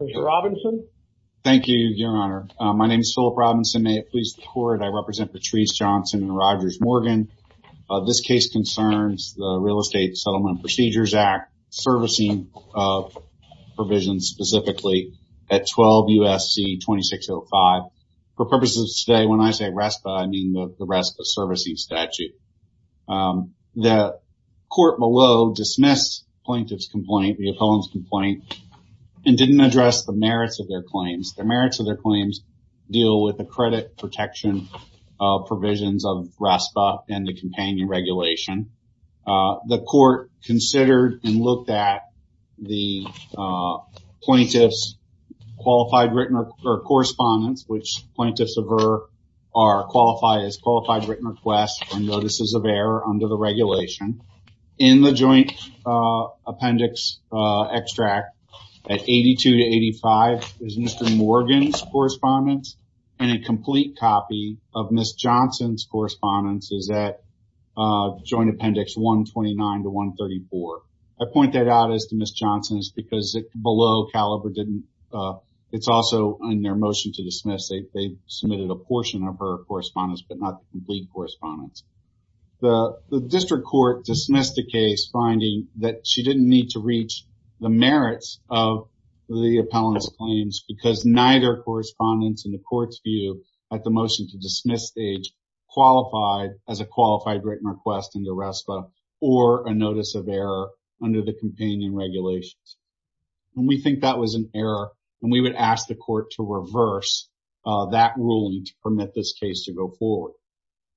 Mr. Robinson. Thank you, Your Honor. My name is Philip Robinson. May it please the court, I represent Patrice Johnson and Rogers Morgan. This case concerns the Real Estate Settlement Procedures Act servicing provisions specifically at 12 USC 2605. For purposes of today, when I say RESPA, I mean the RESPA servicing statute. The court below dismissed plaintiff's complaint, the opponent's didn't address the merits of their claims. The merits of their claims deal with the credit protection provisions of RESPA and the companion regulation. The court considered and looked at the plaintiff's qualified written or correspondence, which plaintiffs are qualified as qualified written requests and notices of error under the regulation. In the joint appendix extract at 82 to 85 is Mr. Morgan's correspondence and a complete copy of Ms. Johnson's correspondence is at joint appendix 129 to 134. I point that out as to Ms. Johnson's because below Caliber didn't, it's also in their motion to dismiss, they submitted a portion of her correspondence but not the complete correspondence. The district court dismissed the case finding that she didn't need to reach the merits of the appellant's claims because neither correspondence in the court's view at the motion to dismiss stage qualified as a qualified written request in the RESPA or a notice of error under the companion regulations. And we think that was an error and we would ask the court to reverse that ruling to permit this case to go forward.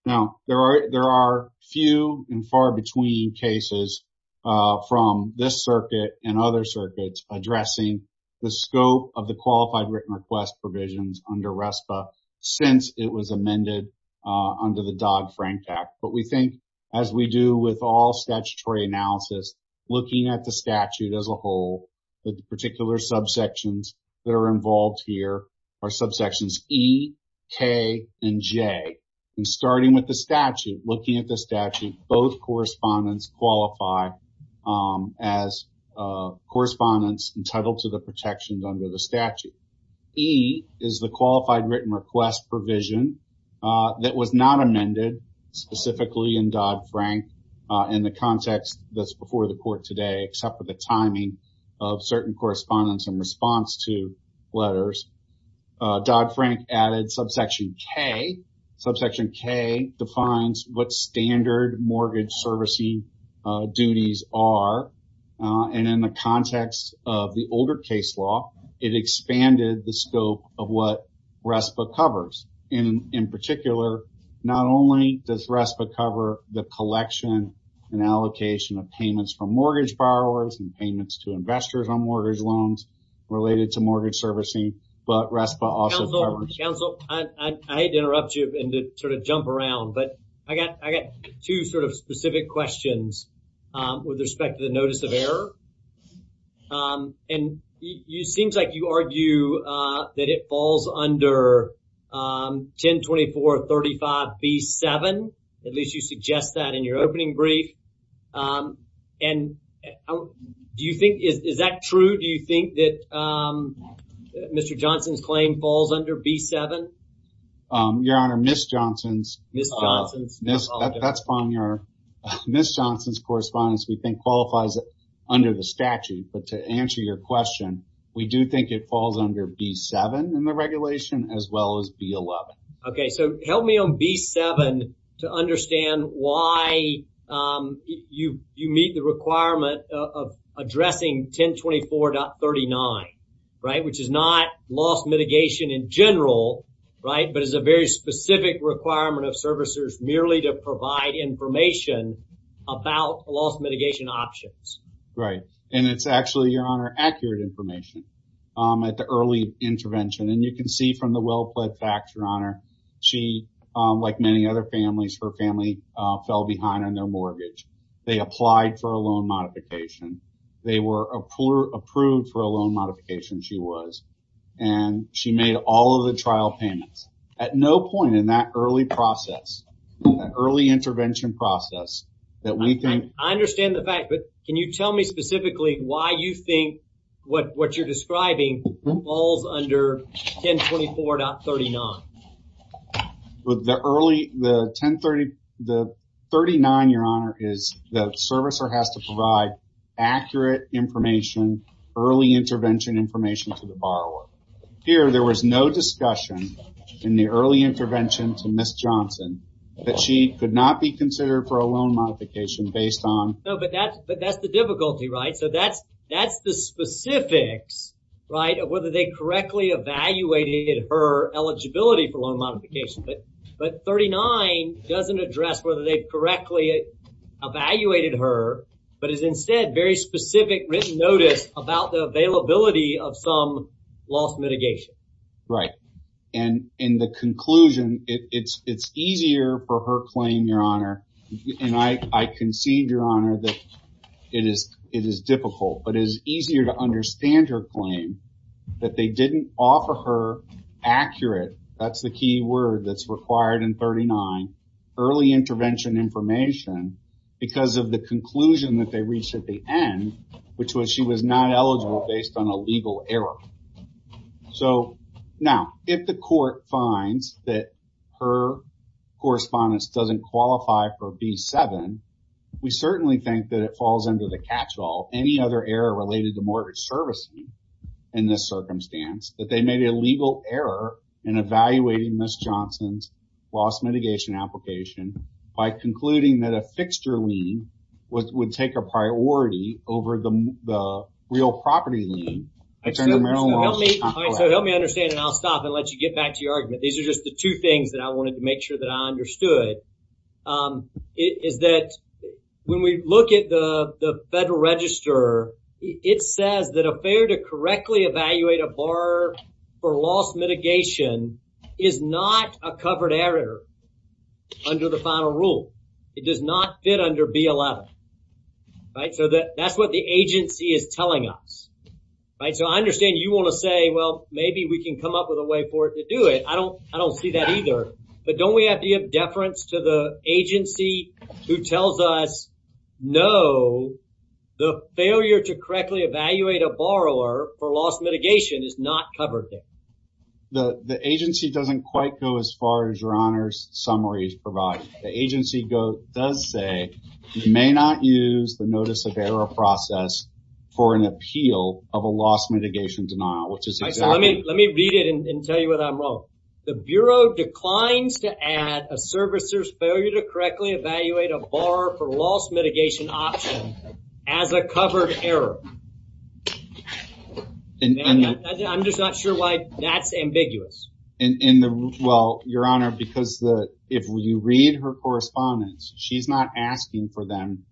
Now there are few and far between cases from this circuit and other circuits addressing the scope of the qualified written request provisions under RESPA since it was amended under the Dog-Frank Act. But we think as we do with all statutory analysis, looking at the statute as a whole, the particular subsections that are involved here are subsections E, K, and J. And starting with the statute, looking at the statute, both correspondence qualify as correspondence entitled to the protections under the statute. E is the qualified written request provision that was not amended specifically in Dodd-Frank in the context that's before the court today except for the timing of certain correspondence in response to letters. Dodd-Frank added subsection K. Subsection K defines what standard mortgage servicing duties are. And in the context of the older case law, it expanded the scope of what RESPA covers. And in particular, not only does RESPA cover the collection and allocation of payments from mortgage borrowers and payments to investors on mortgage loans related to mortgage servicing, but RESPA also covers... Jump around. But I got two sort of specific questions with respect to the notice of error. And it seems like you argue that it falls under 1024.35B7. At least you suggest that in your opening brief. And do you think... Is that true? Do you think that Mr. Johnson's claim falls under B7? Your Honor, Ms. Johnson's... That's fine, Your Honor. Ms. Johnson's correspondence we think qualifies under the statute. But to answer your question, we do think it falls under B7 in the regulation as well as B11. Okay, so help me on B7 to understand why you meet the requirement of addressing 1024.39, right? Which is not loss mitigation in general, right? But it's a very specific requirement of servicers merely to provide information about loss mitigation options. Right. And it's actually, Your Honor, accurate information at the early intervention. And you can see from the well-plaid facts, Your Honor, she, like many other families, her family fell behind on their mortgage. They applied for a loan modification. They were approved for a loan modification, she was. And she made all of the trial payments at no point in that early process, that early intervention process, that we think... I understand the fact, but can you tell me specifically why you think what you're describing falls under 1024.39? With the early, the 1030, the 39, Your Honor, is the servicer has to provide accurate information, early intervention information to the borrower. Here, there was no discussion in the early intervention to Ms. Johnson that she could not be considered for a loan modification based on... No, but that's the difficulty, right? So that's the specifics, right, of whether they correctly evaluated her eligibility for loan modification. But 39 doesn't address whether they correctly evaluated her, but is instead very specific written notice about the availability of some loss mitigation. Right, and in the conclusion, it's easier for her claim, Your Honor, and I concede, Your Honor, that it is difficult, but it is easier to understand her claim that they didn't offer her accurate, that's the key word that's required in 39, early intervention information, because of the conclusion that they reached at the end, which was she was not eligible based on a legal error. So now, if the court finds that her correspondence doesn't qualify for B7, we certainly think that it falls under the catch-all, any other error related to mortgage servicing in this circumstance, that they made a legal error in evaluating Ms. Johnson's loss mitigation application by concluding that a fixture lien would take a priority over the real property lien. So help me understand, and I'll stop and let you get back to your argument. These are just the two things that I wanted to make sure that I understood. It is that when we look at the Federal Register, it says that a fair to correctly evaluate a mitigation is not a covered error under the final rule. It does not fit under B11, right? So that that's what the agency is telling us, right? So I understand you want to say, well, maybe we can come up with a way for it to do it. I don't see that either, but don't we have to give deference to the agency who tells us, no, the failure to correctly evaluate a borrower for loss mitigation is not The agency doesn't quite go as far as your honors summaries provide. The agency does say you may not use the notice of error process for an appeal of a loss mitigation denial. Let me read it and tell you what I'm wrong. The Bureau declines to add a servicers failure to correctly evaluate a borrower for loss I'm not sure why that's ambiguous. Well, your honor, because if you read her correspondence, she's not asking for them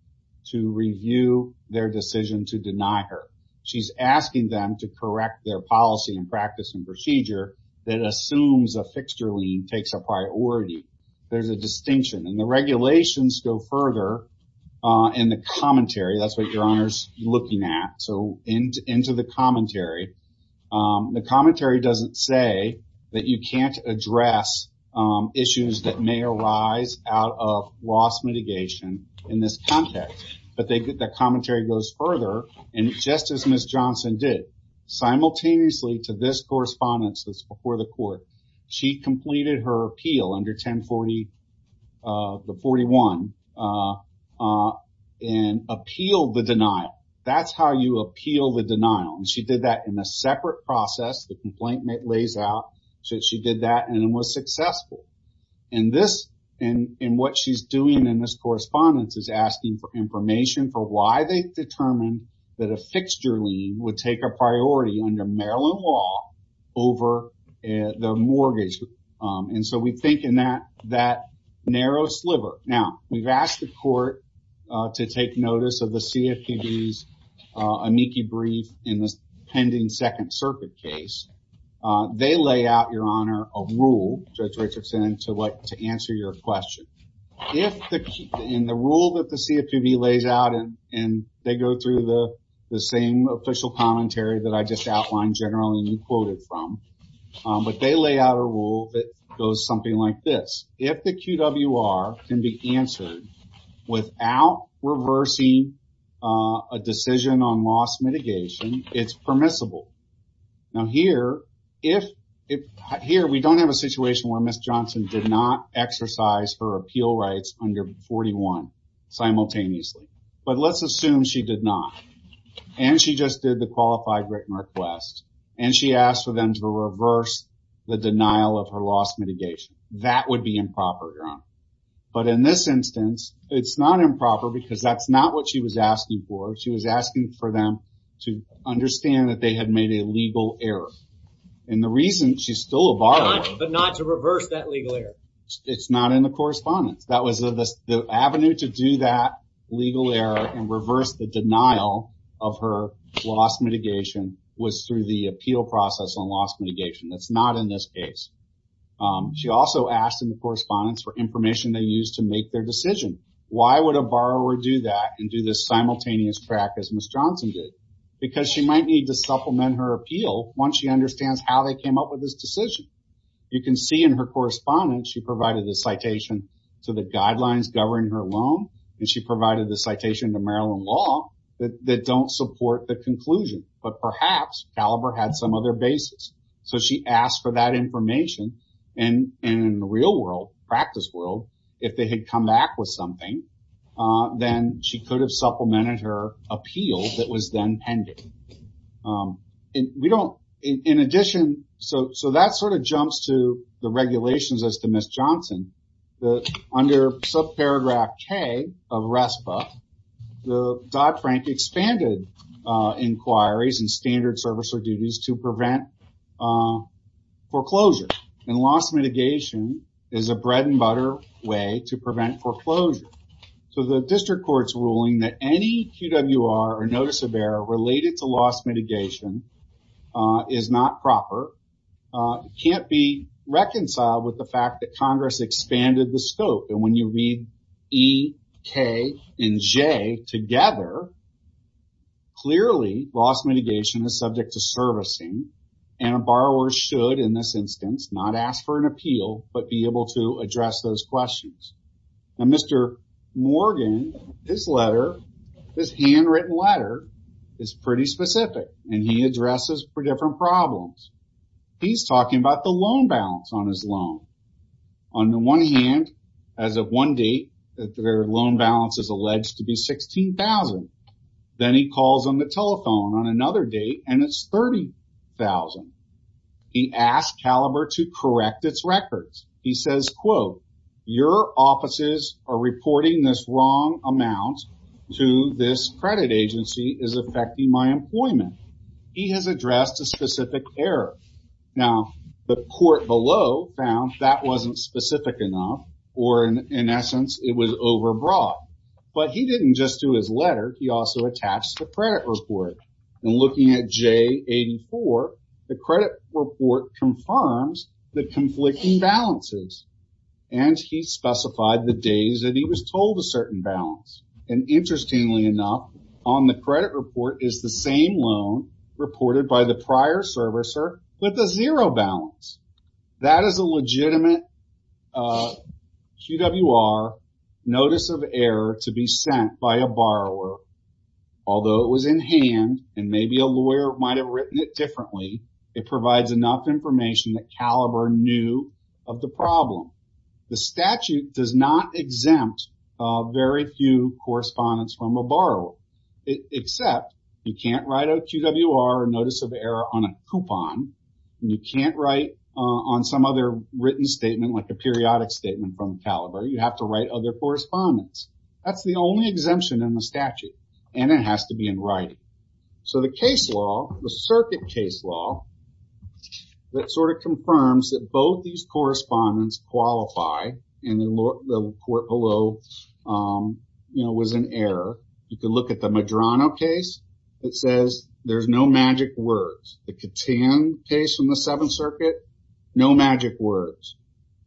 to review their decision to deny her. She's asking them to correct their policy and practice and procedure that assumes a fixture lien takes a priority. There's a distinction and the regulations go further in the commentary. That's what your honors looking at. So into the commentary, the commentary doesn't say that you can't address issues that may arise out of loss mitigation in this context, but the commentary goes further and just as Ms. Johnson did, simultaneously to this correspondence that's before the court, she completed her appeal under 1040, the denial. She did that in a separate process. The complaint lays out that she did that and it was successful. And what she's doing in this correspondence is asking for information for why they determined that a fixture lien would take a priority under Maryland law over the mortgage. And so we think in that that narrow sliver. Now, we've asked the court to take notice of a meekie brief in this pending second circuit case. They lay out, your honor, a rule, Judge Richardson, to answer your question. In the rule that the CFPB lays out and they go through the same official commentary that I just outlined generally and you quoted from, but they lay out a rule that goes something like this. If the QWR can be answered without reversing a decision on mitigation, it's permissible. Now here, we don't have a situation where Ms. Johnson did not exercise her appeal rights under 41 simultaneously, but let's assume she did not. And she just did the qualified written request and she asked for them to reverse the denial of her loss mitigation. That would be improper, your honor. But in this instance, it's not improper because that's not what she was asking for. She was asking for them to understand that they had made a legal error. And the reason she's still a borrower, but not to reverse that legal error. It's not in the correspondence. That was the avenue to do that legal error and reverse the denial of her loss mitigation was through the appeal process on loss mitigation. That's not in this case. She also asked in the correspondence for information they used to make their decision. Why would a simultaneous crack as Ms. Johnson did? Because she might need to supplement her appeal once she understands how they came up with this decision. You can see in her correspondence, she provided the citation to the guidelines governing her loan and she provided the citation to Maryland law that don't support the conclusion. But perhaps, Caliber had some other basis. So she asked for that information and in the real world, practice world, if they had come back with something, then she could have supplemented her appeal that was then pending. In addition, so that sort of jumps to the regulations as to Ms. Johnson. Under subparagraph K of RESPA, Dodd-Frank expanded inquiries and standard servicer duties to prevent foreclosure. And loss mitigation is a bread-and-butter way to prevent foreclosure. So the district court's ruling that any QWR or notice of error related to loss mitigation is not proper, can't be reconciled with the fact that Congress expanded the scope. And when you read E, K, and J together, clearly loss mitigation is subject to servicing and a those questions. Now Mr. Morgan, this letter, this handwritten letter, is pretty specific and he addresses four different problems. He's talking about the loan balance on his loan. On the one hand, as of one date, their loan balance is alleged to be $16,000. Then he calls on the telephone on another date and it's $30,000. He asked Caliber to correct its records. He says, quote, your offices are reporting this wrong amount to this credit agency is affecting my employment. He has addressed a specific error. Now the court below found that wasn't specific enough or in essence it was overbroad. But he didn't just do his 84. The credit report confirms the conflicting balances and he specified the days that he was told a certain balance. And interestingly enough, on the credit report is the same loan reported by the prior servicer with a zero balance. That is a legitimate QWR notice of error to be sent by a borrower. Although it was in hand and maybe a lawyer might have written it differently, it provides enough information that Caliber knew of the problem. The statute does not exempt very few correspondence from a borrower, except you can't write a QWR notice of error on a coupon. You can't write on some other written statement like a periodic statement from Caliber. You have to write other correspondence. That's the only exemption in the statute and it has to be in writing. So the case law, the circuit case law, that sort of confirms that both these correspondence qualify and the court below, you know, was an error. You can look at the Medrano case. It says there's no magic words. The Catan case from the Seventh Circuit, no magic words.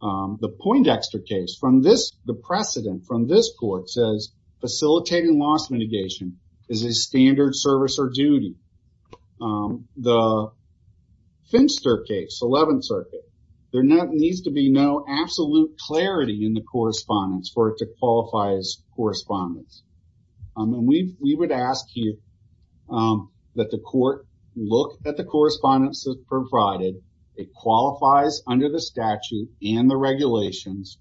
The Poindexter case, from the precedent from this court, says facilitating loss mitigation is a standard servicer duty. The Finster case, Eleventh Circuit, there needs to be no absolute clarity in the correspondence for it to qualify as correspondence. We would ask you that the court look at the correspondence provided. It qualifies under the statute and the regulations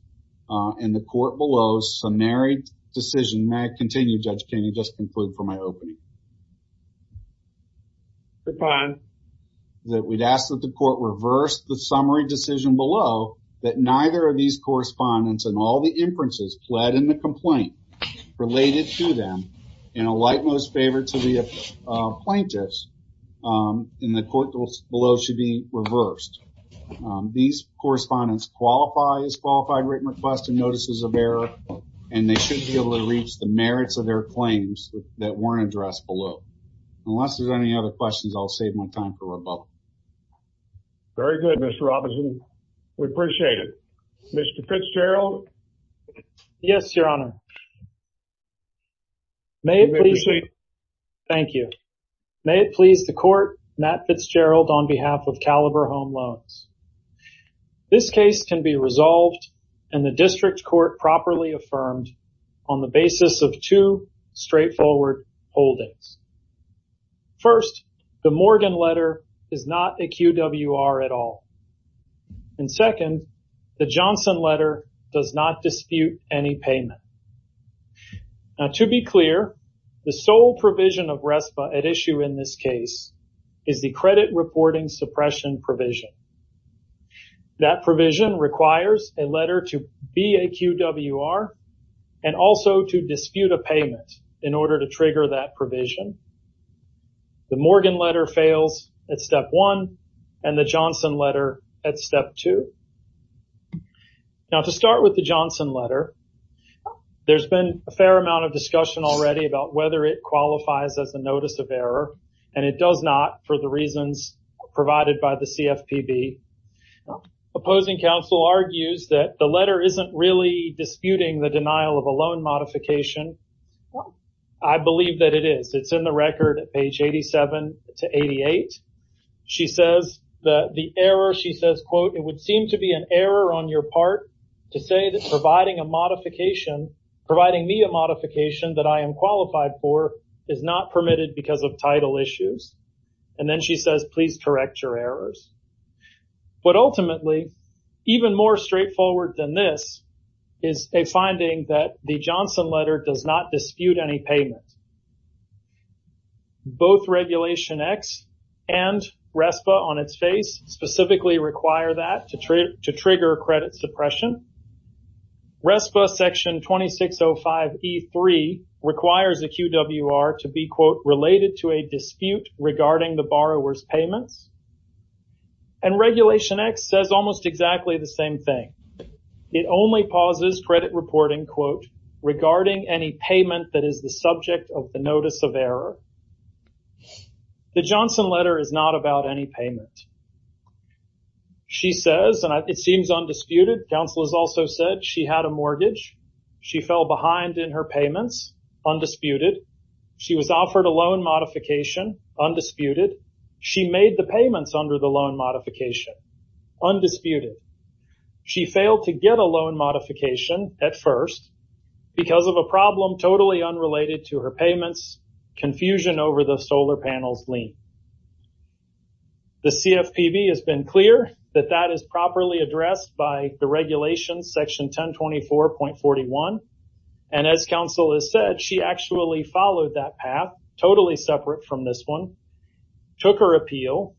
and the court below's summary decision. May I continue, Judge King? I just conclude for my opening. Go on. That we'd ask that the court reverse the summary decision below that neither of these correspondence and all the inferences pled in the complaint related to them in a like most favor to the plaintiffs in the court below should be These correspondence qualify as qualified written request and notices of error and they should be able to reach the merits of their claims that weren't addressed below. Unless there's any other questions, I'll save my time for rebuttal. Very good, Mr. Robinson. We appreciate it. Mr. Fitzgerald? Yes, Your Honor. May it please the court, Matt Fitzgerald on behalf of Caliber Home Loans. This case can be resolved and the district court properly affirmed on the basis of two straightforward holdings. First, the Morgan letter is not a QWR at all. And second, the Johnson letter does not dispute any payment. Now, to be clear, the sole provision of RESPA at issue in this case is the credit reporting suppression provision. That provision requires a letter to be a QWR and also to dispute a payment in order to trigger that provision. The Morgan letter fails at step one and the Johnson letter at step two. Now, to start with the Johnson letter, there's been a fair amount of discussion already about whether it qualifies as a notice of error and it does not for the provided by the CFPB. Opposing counsel argues that the letter isn't really disputing the denial of a loan modification. I believe that it is. It's in the record at page 87 to 88. She says that the error, she says, quote, it would seem to be an error on your part to say that providing a modification, providing me a modification that I am qualified for is not correct your errors. But ultimately, even more straightforward than this is a finding that the Johnson letter does not dispute any payment. Both regulation X and RESPA on its face specifically require that to trigger credit suppression. RESPA section 2605E3 requires a QWR to be, quote, related to a dispute regarding the borrower's payments. And regulation X says almost exactly the same thing. It only pauses credit reporting, quote, regarding any payment that is the subject of the notice of error. The Johnson letter is not about any payment. She says, and it seems undisputed, counsel has also said she had a mortgage. She fell behind in her payments. Undisputed. She was a loan modification. Undisputed. She made the payments under the loan modification. Undisputed. She failed to get a loan modification at first because of a problem totally unrelated to her payments, confusion over the solar panels lien. The CFPB has been clear that that is properly addressed by the regulations section 1024.41. And as counsel has said, she actually followed that path totally separate from this one, took her appeal,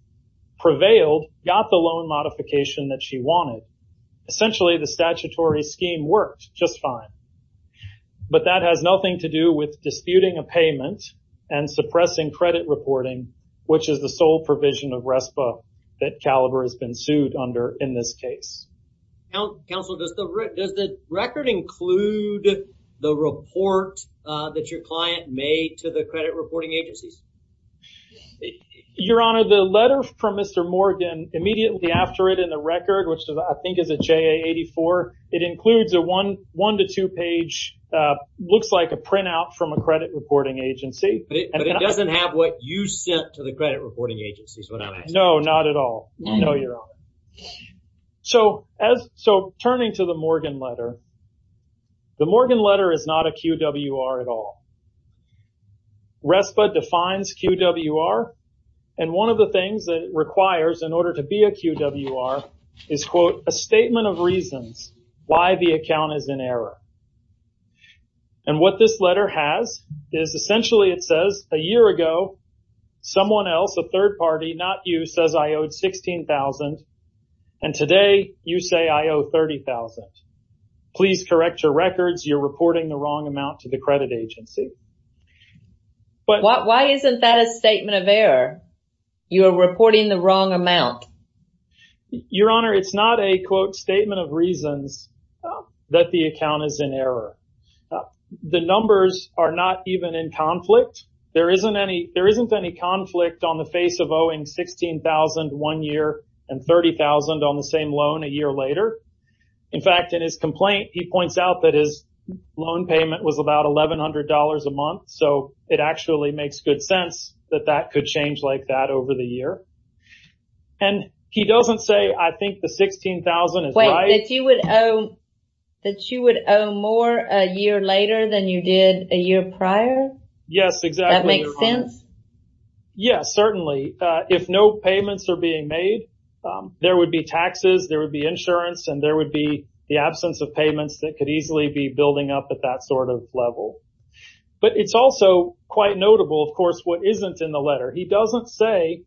prevailed, got the loan modification that she wanted. Essentially, the statutory scheme worked just fine. But that has nothing to do with disputing a payment and suppressing credit reporting, which is the sole provision of RESPA that Caliber has been Does the record include the report that your client made to the credit reporting agencies? Your Honor, the letter from Mr. Morgan immediately after it in the record, which I think is a JA 84, it includes a one to two page, looks like a printout from a credit reporting agency. But it doesn't have what you sent to the credit reporting agencies, is what I'm asking. No, not at all. No, Your Honor. So as so turning to the Morgan letter, the Morgan letter is not a QWR at all. RESPA defines QWR. And one of the things that it requires in order to be a QWR is quote, a statement of reasons why the account is in error. And what this letter has is essentially it says a year ago, someone else, a third party, not you, says I owed $16,000. And today you say I owe $30,000. Please correct your records. You're reporting the wrong amount to the credit agency. But why isn't that a statement of error? You are reporting the wrong amount. Your Honor, it's not a quote, statement of reasons that the account is in error. The numbers are not even in conflict. There isn't any. There isn't any conflict on the face of owing $16,000 one year and $30,000 on the same loan a year later. In fact, in his complaint, he points out that his loan payment was about $1,100 a month. So it actually makes good sense that that could change like that over the year. And he doesn't say, I think the $16,000 is right. Wait, that you would owe more a year later than you did a year prior? Yes, exactly. That makes sense? Yes, certainly. If no payments are being made, there would be taxes, there would be insurance, and there would be the absence of payments that could easily be building up at that sort of level. But it's also quite notable, of course, what isn't in the letter. He doesn't say,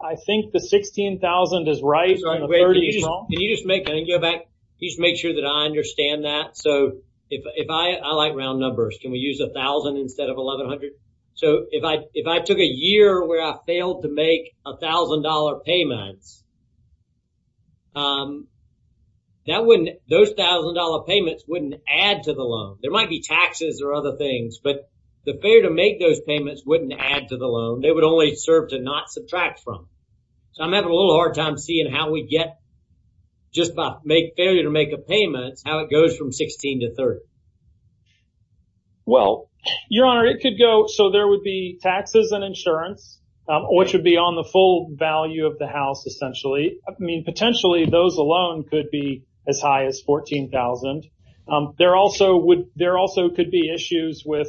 I think the $16,000 is right and the $30,000 is wrong. Can you just make, can I go back? Can you just make sure that I understand that? So if I, I like round numbers. Can we use $1,000 instead of $1,100? So if if I took a year where I failed to make $1,000 payments, that wouldn't, those $1,000 payments wouldn't add to the loan. There might be taxes or other things, but the failure to make those payments wouldn't add to the loan. They would only serve to not subtract from. So I'm having a little hard time seeing how we get just by failure to make a payment, how it goes from $16,000 to $30,000. Well, Your Honor, it could go, so there would be taxes and insurance, which would be on the full value of the house, essentially. I mean, potentially those alone could be as high as $14,000. There also would, there also could be issues with,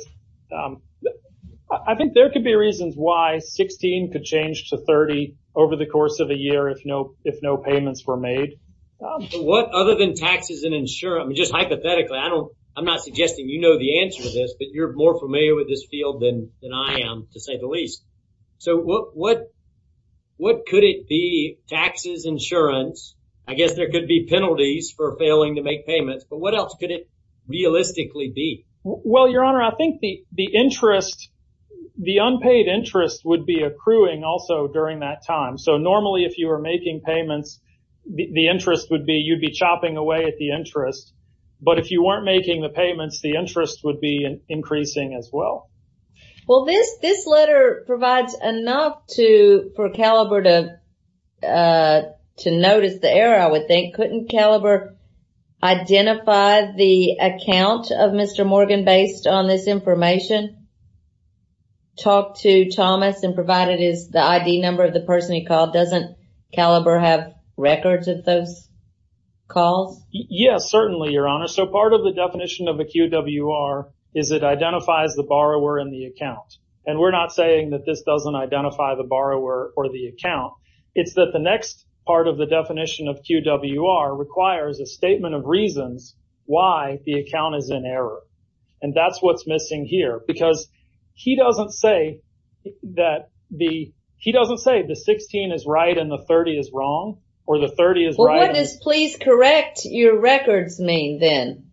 I think there could be reasons why $16,000 could change to $30,000 over the course of a year if no, if no payments were made. What other than taxes and insurance, I mean, just hypothetically, I don't, I'm not suggesting you know the answer to this, but you're more familiar with this field than I am, to say the least. So what, what, what could it be? Taxes, insurance, I guess there could be penalties for failing to make payments, but what else could it realistically be? Well, Your Honor, I think the, the interest, the unpaid interest would be accruing also during that time. So normally if you were making payments, the interest would be, you'd be chopping away at the interest, but if you weren't making the payments, the interest would be increasing as well. Well, this, this letter provides enough to, for Caliber to, to notice the error, I would think. Couldn't Caliber identify the account of Mr. Morgan based on this information? Talk to Thomas and provide it as the ID number of the person he called. Doesn't Caliber have records of those calls? Yes, certainly, Your Honor. So part of the definition of a QWR is it identifies the borrower in the account, and we're not saying that this doesn't identify the borrower or the account. It's that the next part of the definition of QWR requires a statement of reasons why the account is in error, and that's what's missing here, because he doesn't say that the, he doesn't say the 16 is right and the 30 is wrong, or the 30 is right. Well what does please correct your records mean then?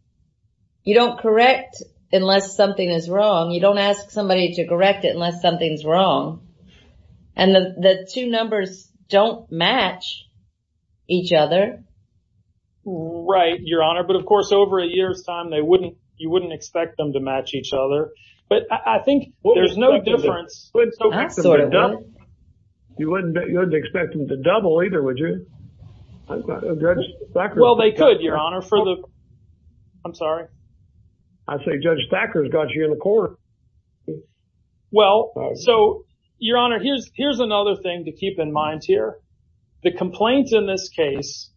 You don't correct unless something is wrong. You don't ask somebody to correct it unless something's wrong, and the two numbers don't match each other. Right, Your Honor, but of course over a year's time they wouldn't, you wouldn't expect them to match each other, but I think there's no difference. You wouldn't expect them to double either, would you? Well they could, Your Honor, for the, I'm sorry. I say Judge Thacker's got you in the corner. Well, so Your Honor, here's another thing to keep in mind here. The complaints in this case,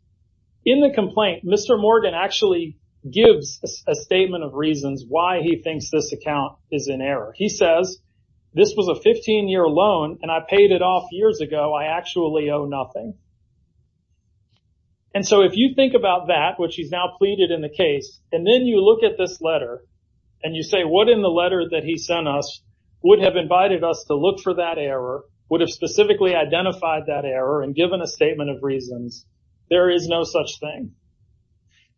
in the complaint, Mr. Morgan actually gives a this was a 15-year loan, and I paid it off years ago. I actually owe nothing, and so if you think about that, which he's now pleaded in the case, and then you look at this letter, and you say what in the letter that he sent us would have invited us to look for that error, would have specifically identified that error, and given a statement of reasons, there is no such thing.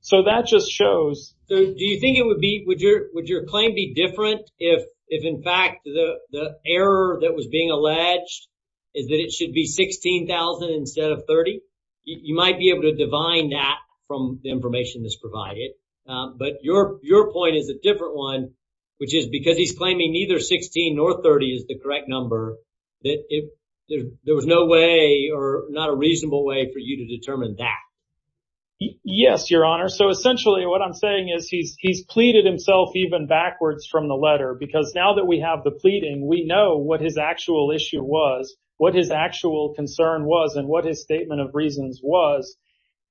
So that just shows. So do you think it would be, would your, would your claim be different if, if in fact the error that was being alleged is that it should be $16,000 instead of $30,000? You might be able to divine that from the information that's provided, but your, your point is a different one, which is because he's claiming neither $16,000 nor $30,000 is the correct number, that if there was no way or not a reasonable way for you to determine that. Yes, Your Honor, so essentially what I'm saying is he's, he's pleaded himself even backwards from the letter, because now that we have the pleading, we know what his actual issue was, what his actual concern was, and what his statement of reasons was,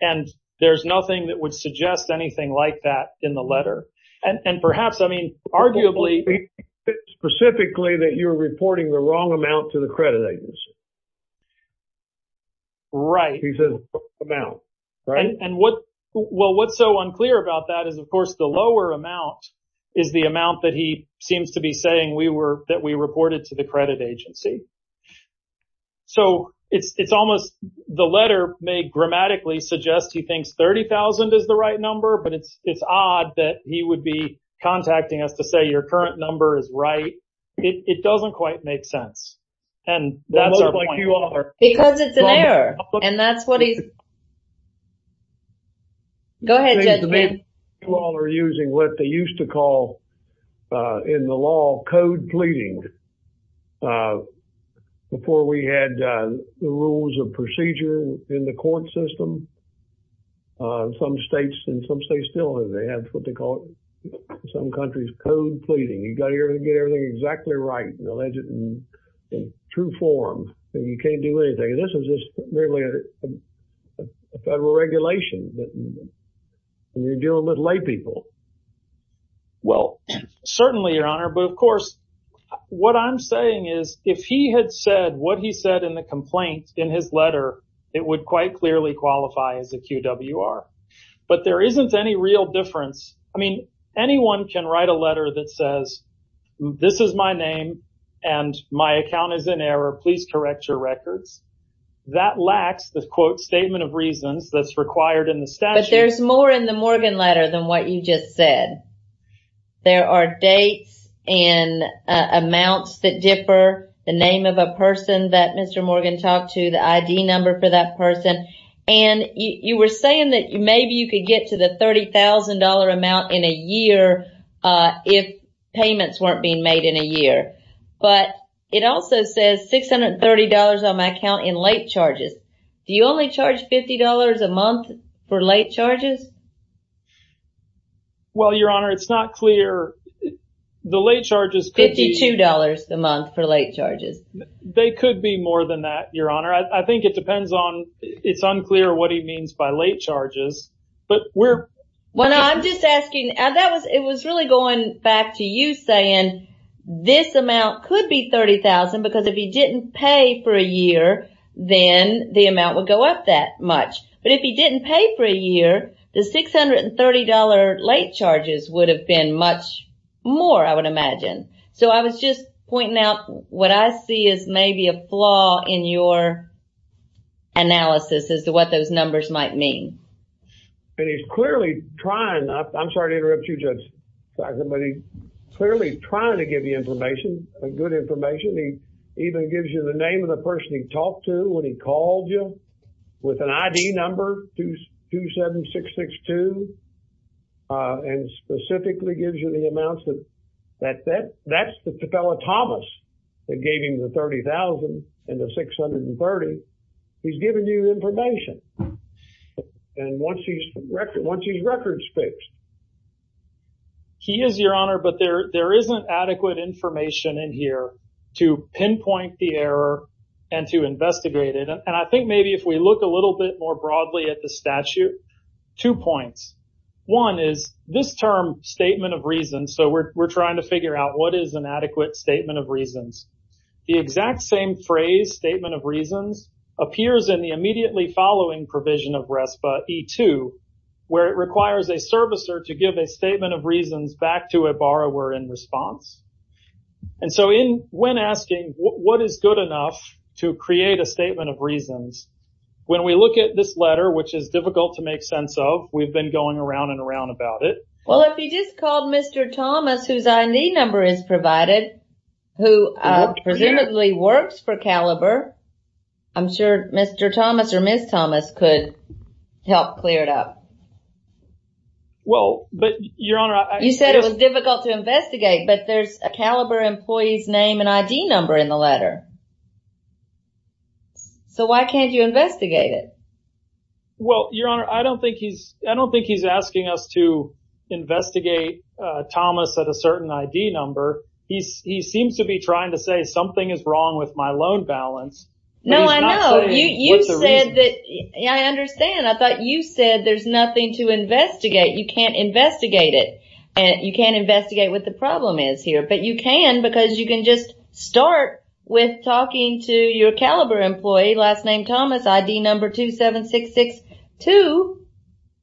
and there's nothing that would suggest anything like that in the letter. And, and perhaps, I mean, arguably, specifically that you're reporting the wrong amount to the credit agency. Right. And what, well, what's so unclear about that is, of course, the lower amount is the amount that he seems to be saying we were, that we reported to the credit agency. So it's, it's almost, the letter may grammatically suggest he thinks $30,000 is the right number, but it's, it's odd that he would be contacting us to say your current number is right. It doesn't quite make sense. And that's our point. Because it's an error. And that's what he's, go ahead, Judge. You all are using what they used to call in the law, code pleading. Before we had the rules of procedure in the court system, some states, and some states still have, they have what they call it, in some countries, code pleading. You've got to use it in true form. You can't do anything. This is just really a federal regulation that you're dealing with lay people. Well, certainly, Your Honor. But of course, what I'm saying is, if he had said what he said in the complaint in his letter, it would quite clearly qualify as a QWR. But there isn't any real difference. I mean, anyone can write a letter that says, this is my name, and my account is in error. Please correct your records. That lacks the quote, statement of reasons that's required in the statute. But there's more in the Morgan letter than what you just said. There are dates and amounts that differ, the name of a person that Mr. Morgan talked to, the ID number for that person. And you were saying that maybe you could get to the $30,000 amount in a year if payments weren't being made in a year. But it also says $630 on my account in late charges. Do you only charge $50 a month for late charges? Well, Your Honor, it's not clear. The late charges could be- $52 a month for late charges. They could be more than that, Your Honor. I think it depends on, it's unclear what he means by late charges. But we're- I'm just asking, it was really going back to you saying, this amount could be $30,000 because if he didn't pay for a year, then the amount would go up that much. But if he didn't pay for a year, the $630 late charges would have been much more, I would imagine. So I was just pointing out what I see as maybe a flaw in your analysis as to what those numbers might mean. And he's clearly trying, I'm sorry to interrupt you, Judge, but he's clearly trying to give you information, good information. He even gives you the name of the person he talked to when he called you with an ID number, 27662, and specifically gives you the amounts. That's the fellow Thomas that gave him the $30,000 and the $630. He's giving you information. And once he's records fixed. He is, Your Honor, but there isn't adequate information in here to pinpoint the error and to investigate it. And I think maybe if we look a little bit more broadly at the statute, two points. One is this term statement of reasons, so we're trying to figure out what is an adequate statement of reasons. The exact same phrase statement of reasons appears in the immediately following provision of RESPA E2, where it requires a servicer to give a statement of reasons back to a borrower in response. And so when asking what is good enough to create a statement of reasons, when we look at this letter, which is difficult to make sense of, we've been going around and around about it. Well, if you just called Mr. Thomas, whose ID number is provided, who presumably works for Caliber, I'm sure Mr. Thomas or Ms. Thomas could help clear it up. Well, but Your Honor, you said it was difficult to investigate, but there's a Caliber employee's name and ID number in the letter. So why can't you investigate it? Well, Your Honor, I don't think he's, I don't think he's asking us to investigate Thomas at a certain ID number. He seems to be trying to say something is wrong with my loan balance. No, I know. You said that, I understand. I thought you said there's nothing to investigate. You can't investigate it. You can't investigate what the problem is here, but you can because you can just start with talking to your Caliber employee, last name Thomas, ID number 27662,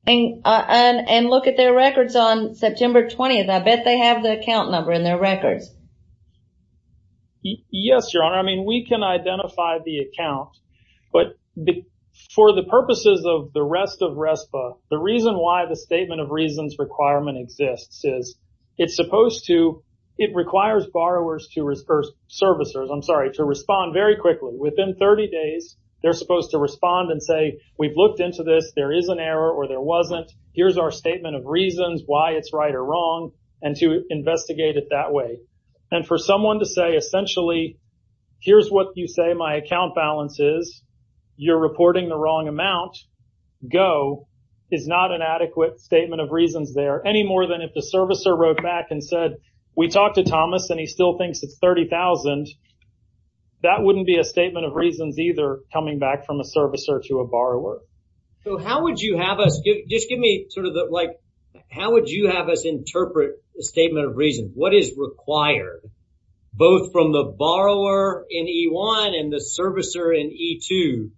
and look at their records on September 20th. I bet they have the account number in their records. Yes, Your Honor. I mean, we can identify the account, but for the purposes of the rest of RESPA, the reason why the statement of reasons requirement exists is it's supposed to, it requires borrowers to, or servicers, I'm sorry, to respond very quickly. Within 30 days, they're supposed to respond and say, we've looked into this, there is an error or there wasn't. Here's our statement of reasons why it's right or wrong, and to investigate it that way. And for someone to say, essentially, here's what you say my account balance is, you're reporting the wrong amount, go, is not an adequate statement of reasons there, any more than if the servicer wrote back and said, we talked to Thomas and he still thinks it's $30,000, that wouldn't be a statement of reasons either, coming back from a servicer to a borrower. So how would you have us, just give me sort of the, like, how would you have us interpret the statement of reasons? What is required, both from the borrower in E1 and the servicer in E2?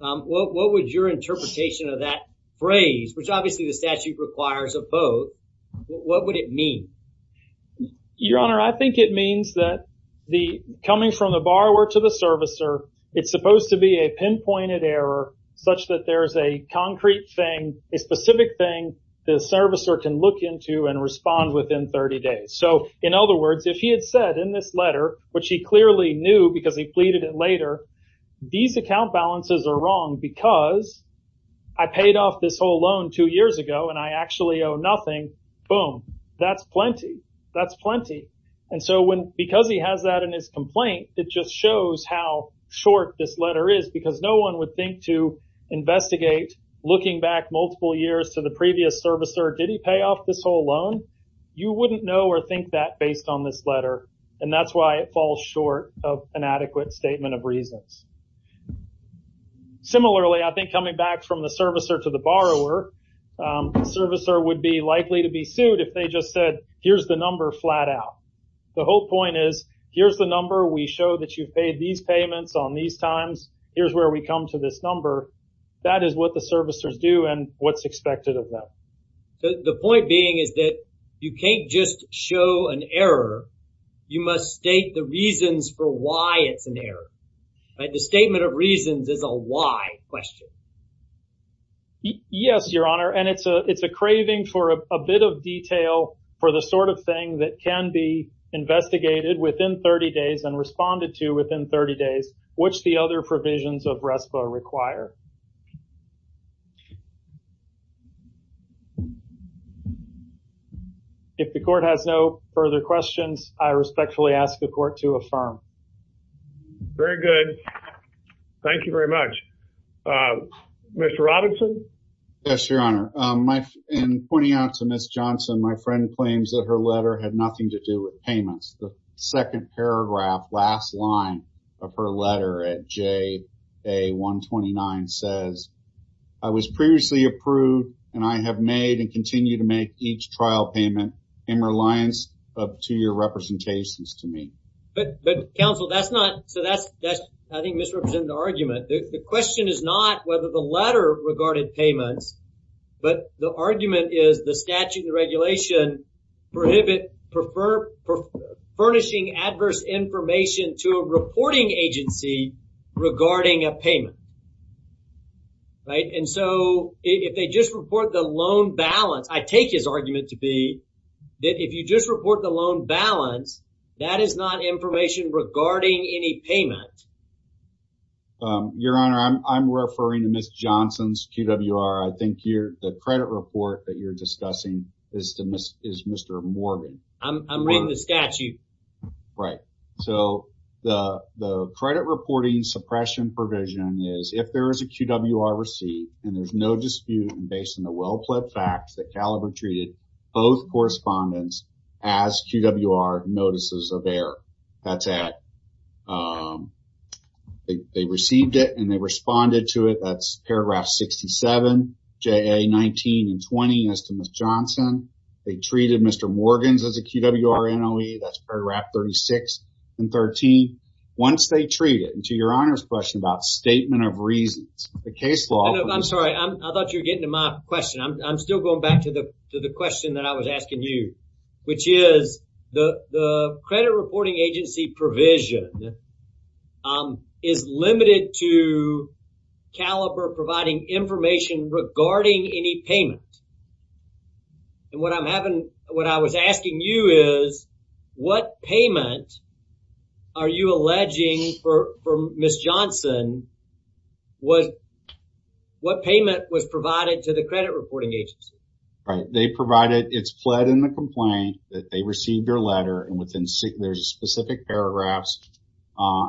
What would your interpretation of that phrase, which obviously the statute requires of both, what would it mean? Your Honor, I think it means that the, coming from the borrower to the servicer, it's supposed to be a pinpointed error, such that there's a concrete thing, a specific thing, the servicer can look into and respond within 30 days. So in other words, if he had said in this letter, which he clearly knew because he pleaded it later, these account balances are wrong because I paid off this whole loan two years ago and I actually owe nothing, boom, that's plenty. That's plenty. And so when, because he has that in his complaint, it just shows how short this letter is because no one would think to investigate, looking back multiple years to the previous servicer, did he pay off this whole loan? You wouldn't know or think that based on this letter. And that's why it falls short of an adequate statement of reasons. Similarly, I think coming back from the servicer to the borrower, the servicer would be likely to be sued if they just said, here's the number flat out. The whole point is, here's the number we show that you've paid these payments on these times. Here's where we come to this number. That is what the servicers do and what's expected of them. The point being is that you can't just show an error. You must state the reasons for why it's there. The statement of reasons is a why question. Yes, your honor. And it's a craving for a bit of detail for the sort of thing that can be investigated within 30 days and responded to within 30 days, which the other provisions of RESPA require. If the court has no further questions, I respectfully ask the court to affirm. Very good. Thank you very much. Mr. Robinson? Yes, your honor. In pointing out to Ms. Johnson, my friend claims that her letter had nothing to do with payments. The second paragraph, last line of her letter at JA-129 says, I was previously approved and I have made and continue to make each trial payment in reliance of two-year representations to me. But counsel, that's not, so that's, I think, misrepresenting the argument. The question is not whether the letter regarded payments, but the argument is the statute and regulation prohibit, prefer, furnishing adverse information to a reporting agency regarding a payment. Right? And so if they just report the loan balance, I take his argument to be that if you just report the loan balance, that is not information regarding any payment. Your honor, I'm referring to Ms. Johnson's QWR. I think the credit report that you're discussing is Mr. Morgan. I'm reading the statute. Right. So the credit reporting suppression provision is if there is a QWR receipt and there's no dispute and based on the well-plaid facts that Caliber treated both correspondents as QWR notices of error. That's it. They received it and they responded to it. That's paragraph 67, JA-19 and 20 as to Ms. Johnson. They treated Mr. Morgan's as a QWR NOE. That's paragraph 36 and 13. Once they treat it, and to your honor's question about statement of reasons, the case law. I'm sorry. I thought you were getting to my question. I'm still going back to the question that I was asking you, which is the credit reporting agency provision is limited to Caliber providing information regarding any payment. And what I'm having, what I was asking you is what payment are you alleging for Ms. Johnson was what payment was provided to the credit reporting agency? Right. They provided it's fled in the complaint that they received their letter and within there's specific paragraphs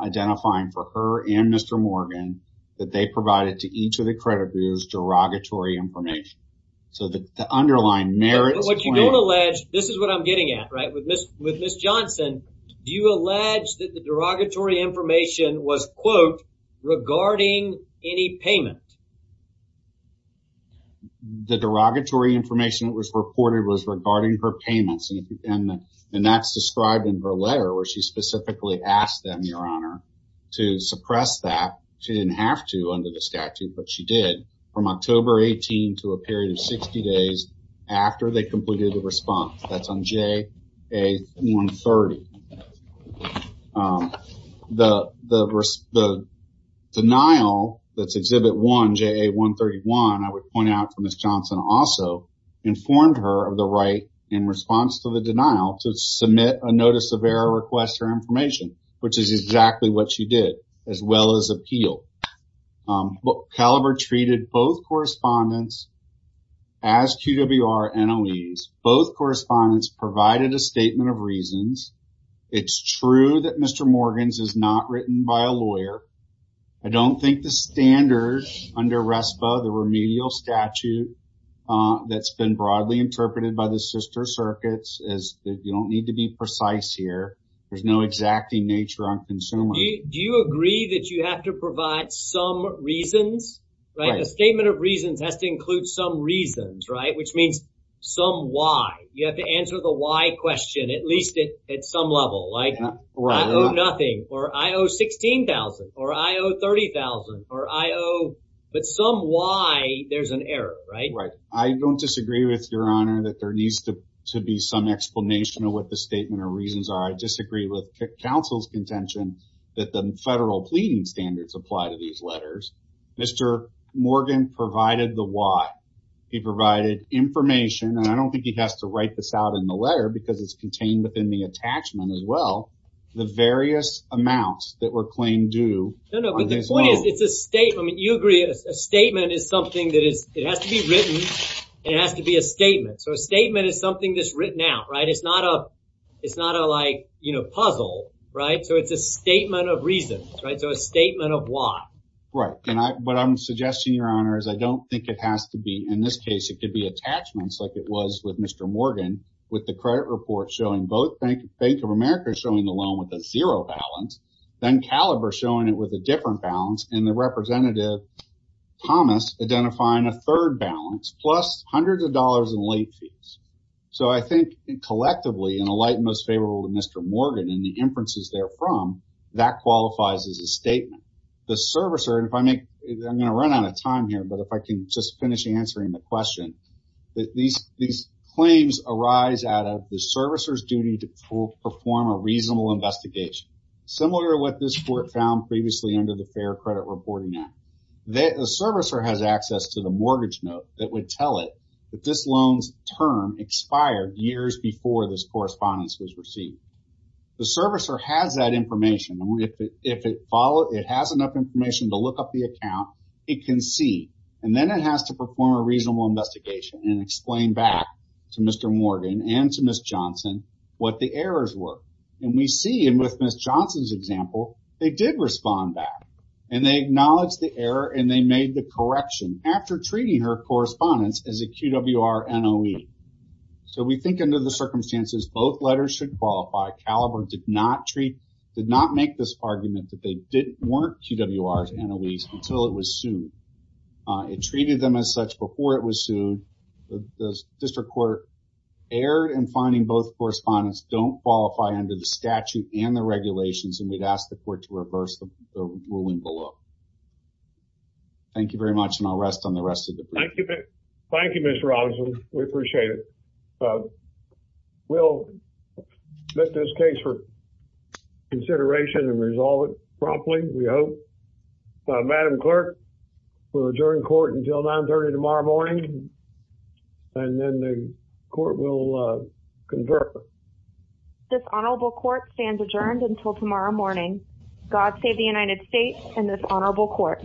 identifying for her and Mr. Morgan that they provided to each of the creditors derogatory information. So the underlying merit. What you don't allege, this is what I'm getting at, right? With Ms. Johnson, do you allege that the derogatory information was quote regarding any payment? The derogatory information that was reported was regarding her payments and that's described in her letter where she specifically asked them, your honor, to suppress that. She didn't have under the statute, but she did from October 18 to a period of 60 days after they completed the response. That's on JA 130. The denial that's exhibit one, JA 131, I would point out for Ms. Johnson also informed her of the right in response to the denial to submit a notice of error request for information, which is exactly what she did as well as appeal. Caliber treated both correspondents as QWR NLEs. Both correspondents provided a statement of reasons. It's true that Mr. Morgan's is not written by a lawyer. I don't think the standards under RESPA, the remedial statute that's been broadly interpreted by the sister circuits as you don't need to be precise here. There's no exacting nature on consumer. Do you agree that you have to provide some reasons? A statement of reasons has to include some reasons, which means some why. You have to answer the why question at least at some level. I owe nothing or I owe $16,000 or I owe $30,000, but some why there's an error. I don't disagree with your honor that there needs to be some explanation of what the statement of reasons are. I disagree with counsel's contention that the federal pleading standards apply to these letters. Mr. Morgan provided the why. He provided information, and I don't think he has to write this out in the letter because it's contained within the attachment as well, the various amounts that were claimed due. It's a statement. You agree a statement is something that has to be written. It has to be a statement. A statement is something that's written out. It's not a puzzle. It's a statement of reasons, so a statement of why. What I'm suggesting, your honor, is I don't think it has to be. In this case, it could be attachments like it was with Mr. Morgan with the credit report showing both Bank of America showing the loan with a zero balance, then Caliber showing it with a different balance, and the representative Thomas identifying a third balance plus hundreds of dollars in late fees. I think collectively, in the light most favorable to Mr. Morgan and the inferences therefrom, that qualifies as a statement. The servicer, and I'm going to run out of time here, but if I can just finish answering the question, these claims arise out of the servicer's duty to perform a reasonable investigation similar to what this court found previously under the Fair Credit Reporting Act. The servicer has access to the mortgage note that would tell it that this loan's term expired years before this correspondence was received. The servicer has that information. If it has enough information to look up the account, it can see. Then it has to perform a reasonable investigation and explain back to Mr. Morgan and to Ms. Johnson what the errors were. We see in Ms. Johnson's example, they did respond back. They acknowledged the error and they made the correction after treating her circumstances. Both letters should qualify. Caliber did not make this argument that they didn't warrant QWRs and OEs until it was sued. It treated them as such before it was sued. The district court erred in finding both correspondence don't qualify under the statute and the regulations, and we'd ask the court to reverse the ruling below. Thank you very much, and I'll rest on the rest of the brief. Thank you, Mr. Robinson. We appreciate it. We'll submit this case for consideration and resolve it promptly, we hope. Madam Clerk, we'll adjourn court until 9.30 tomorrow morning, and then the court will confer. This honorable court stands adjourned until tomorrow morning. God save the United States and this honorable court.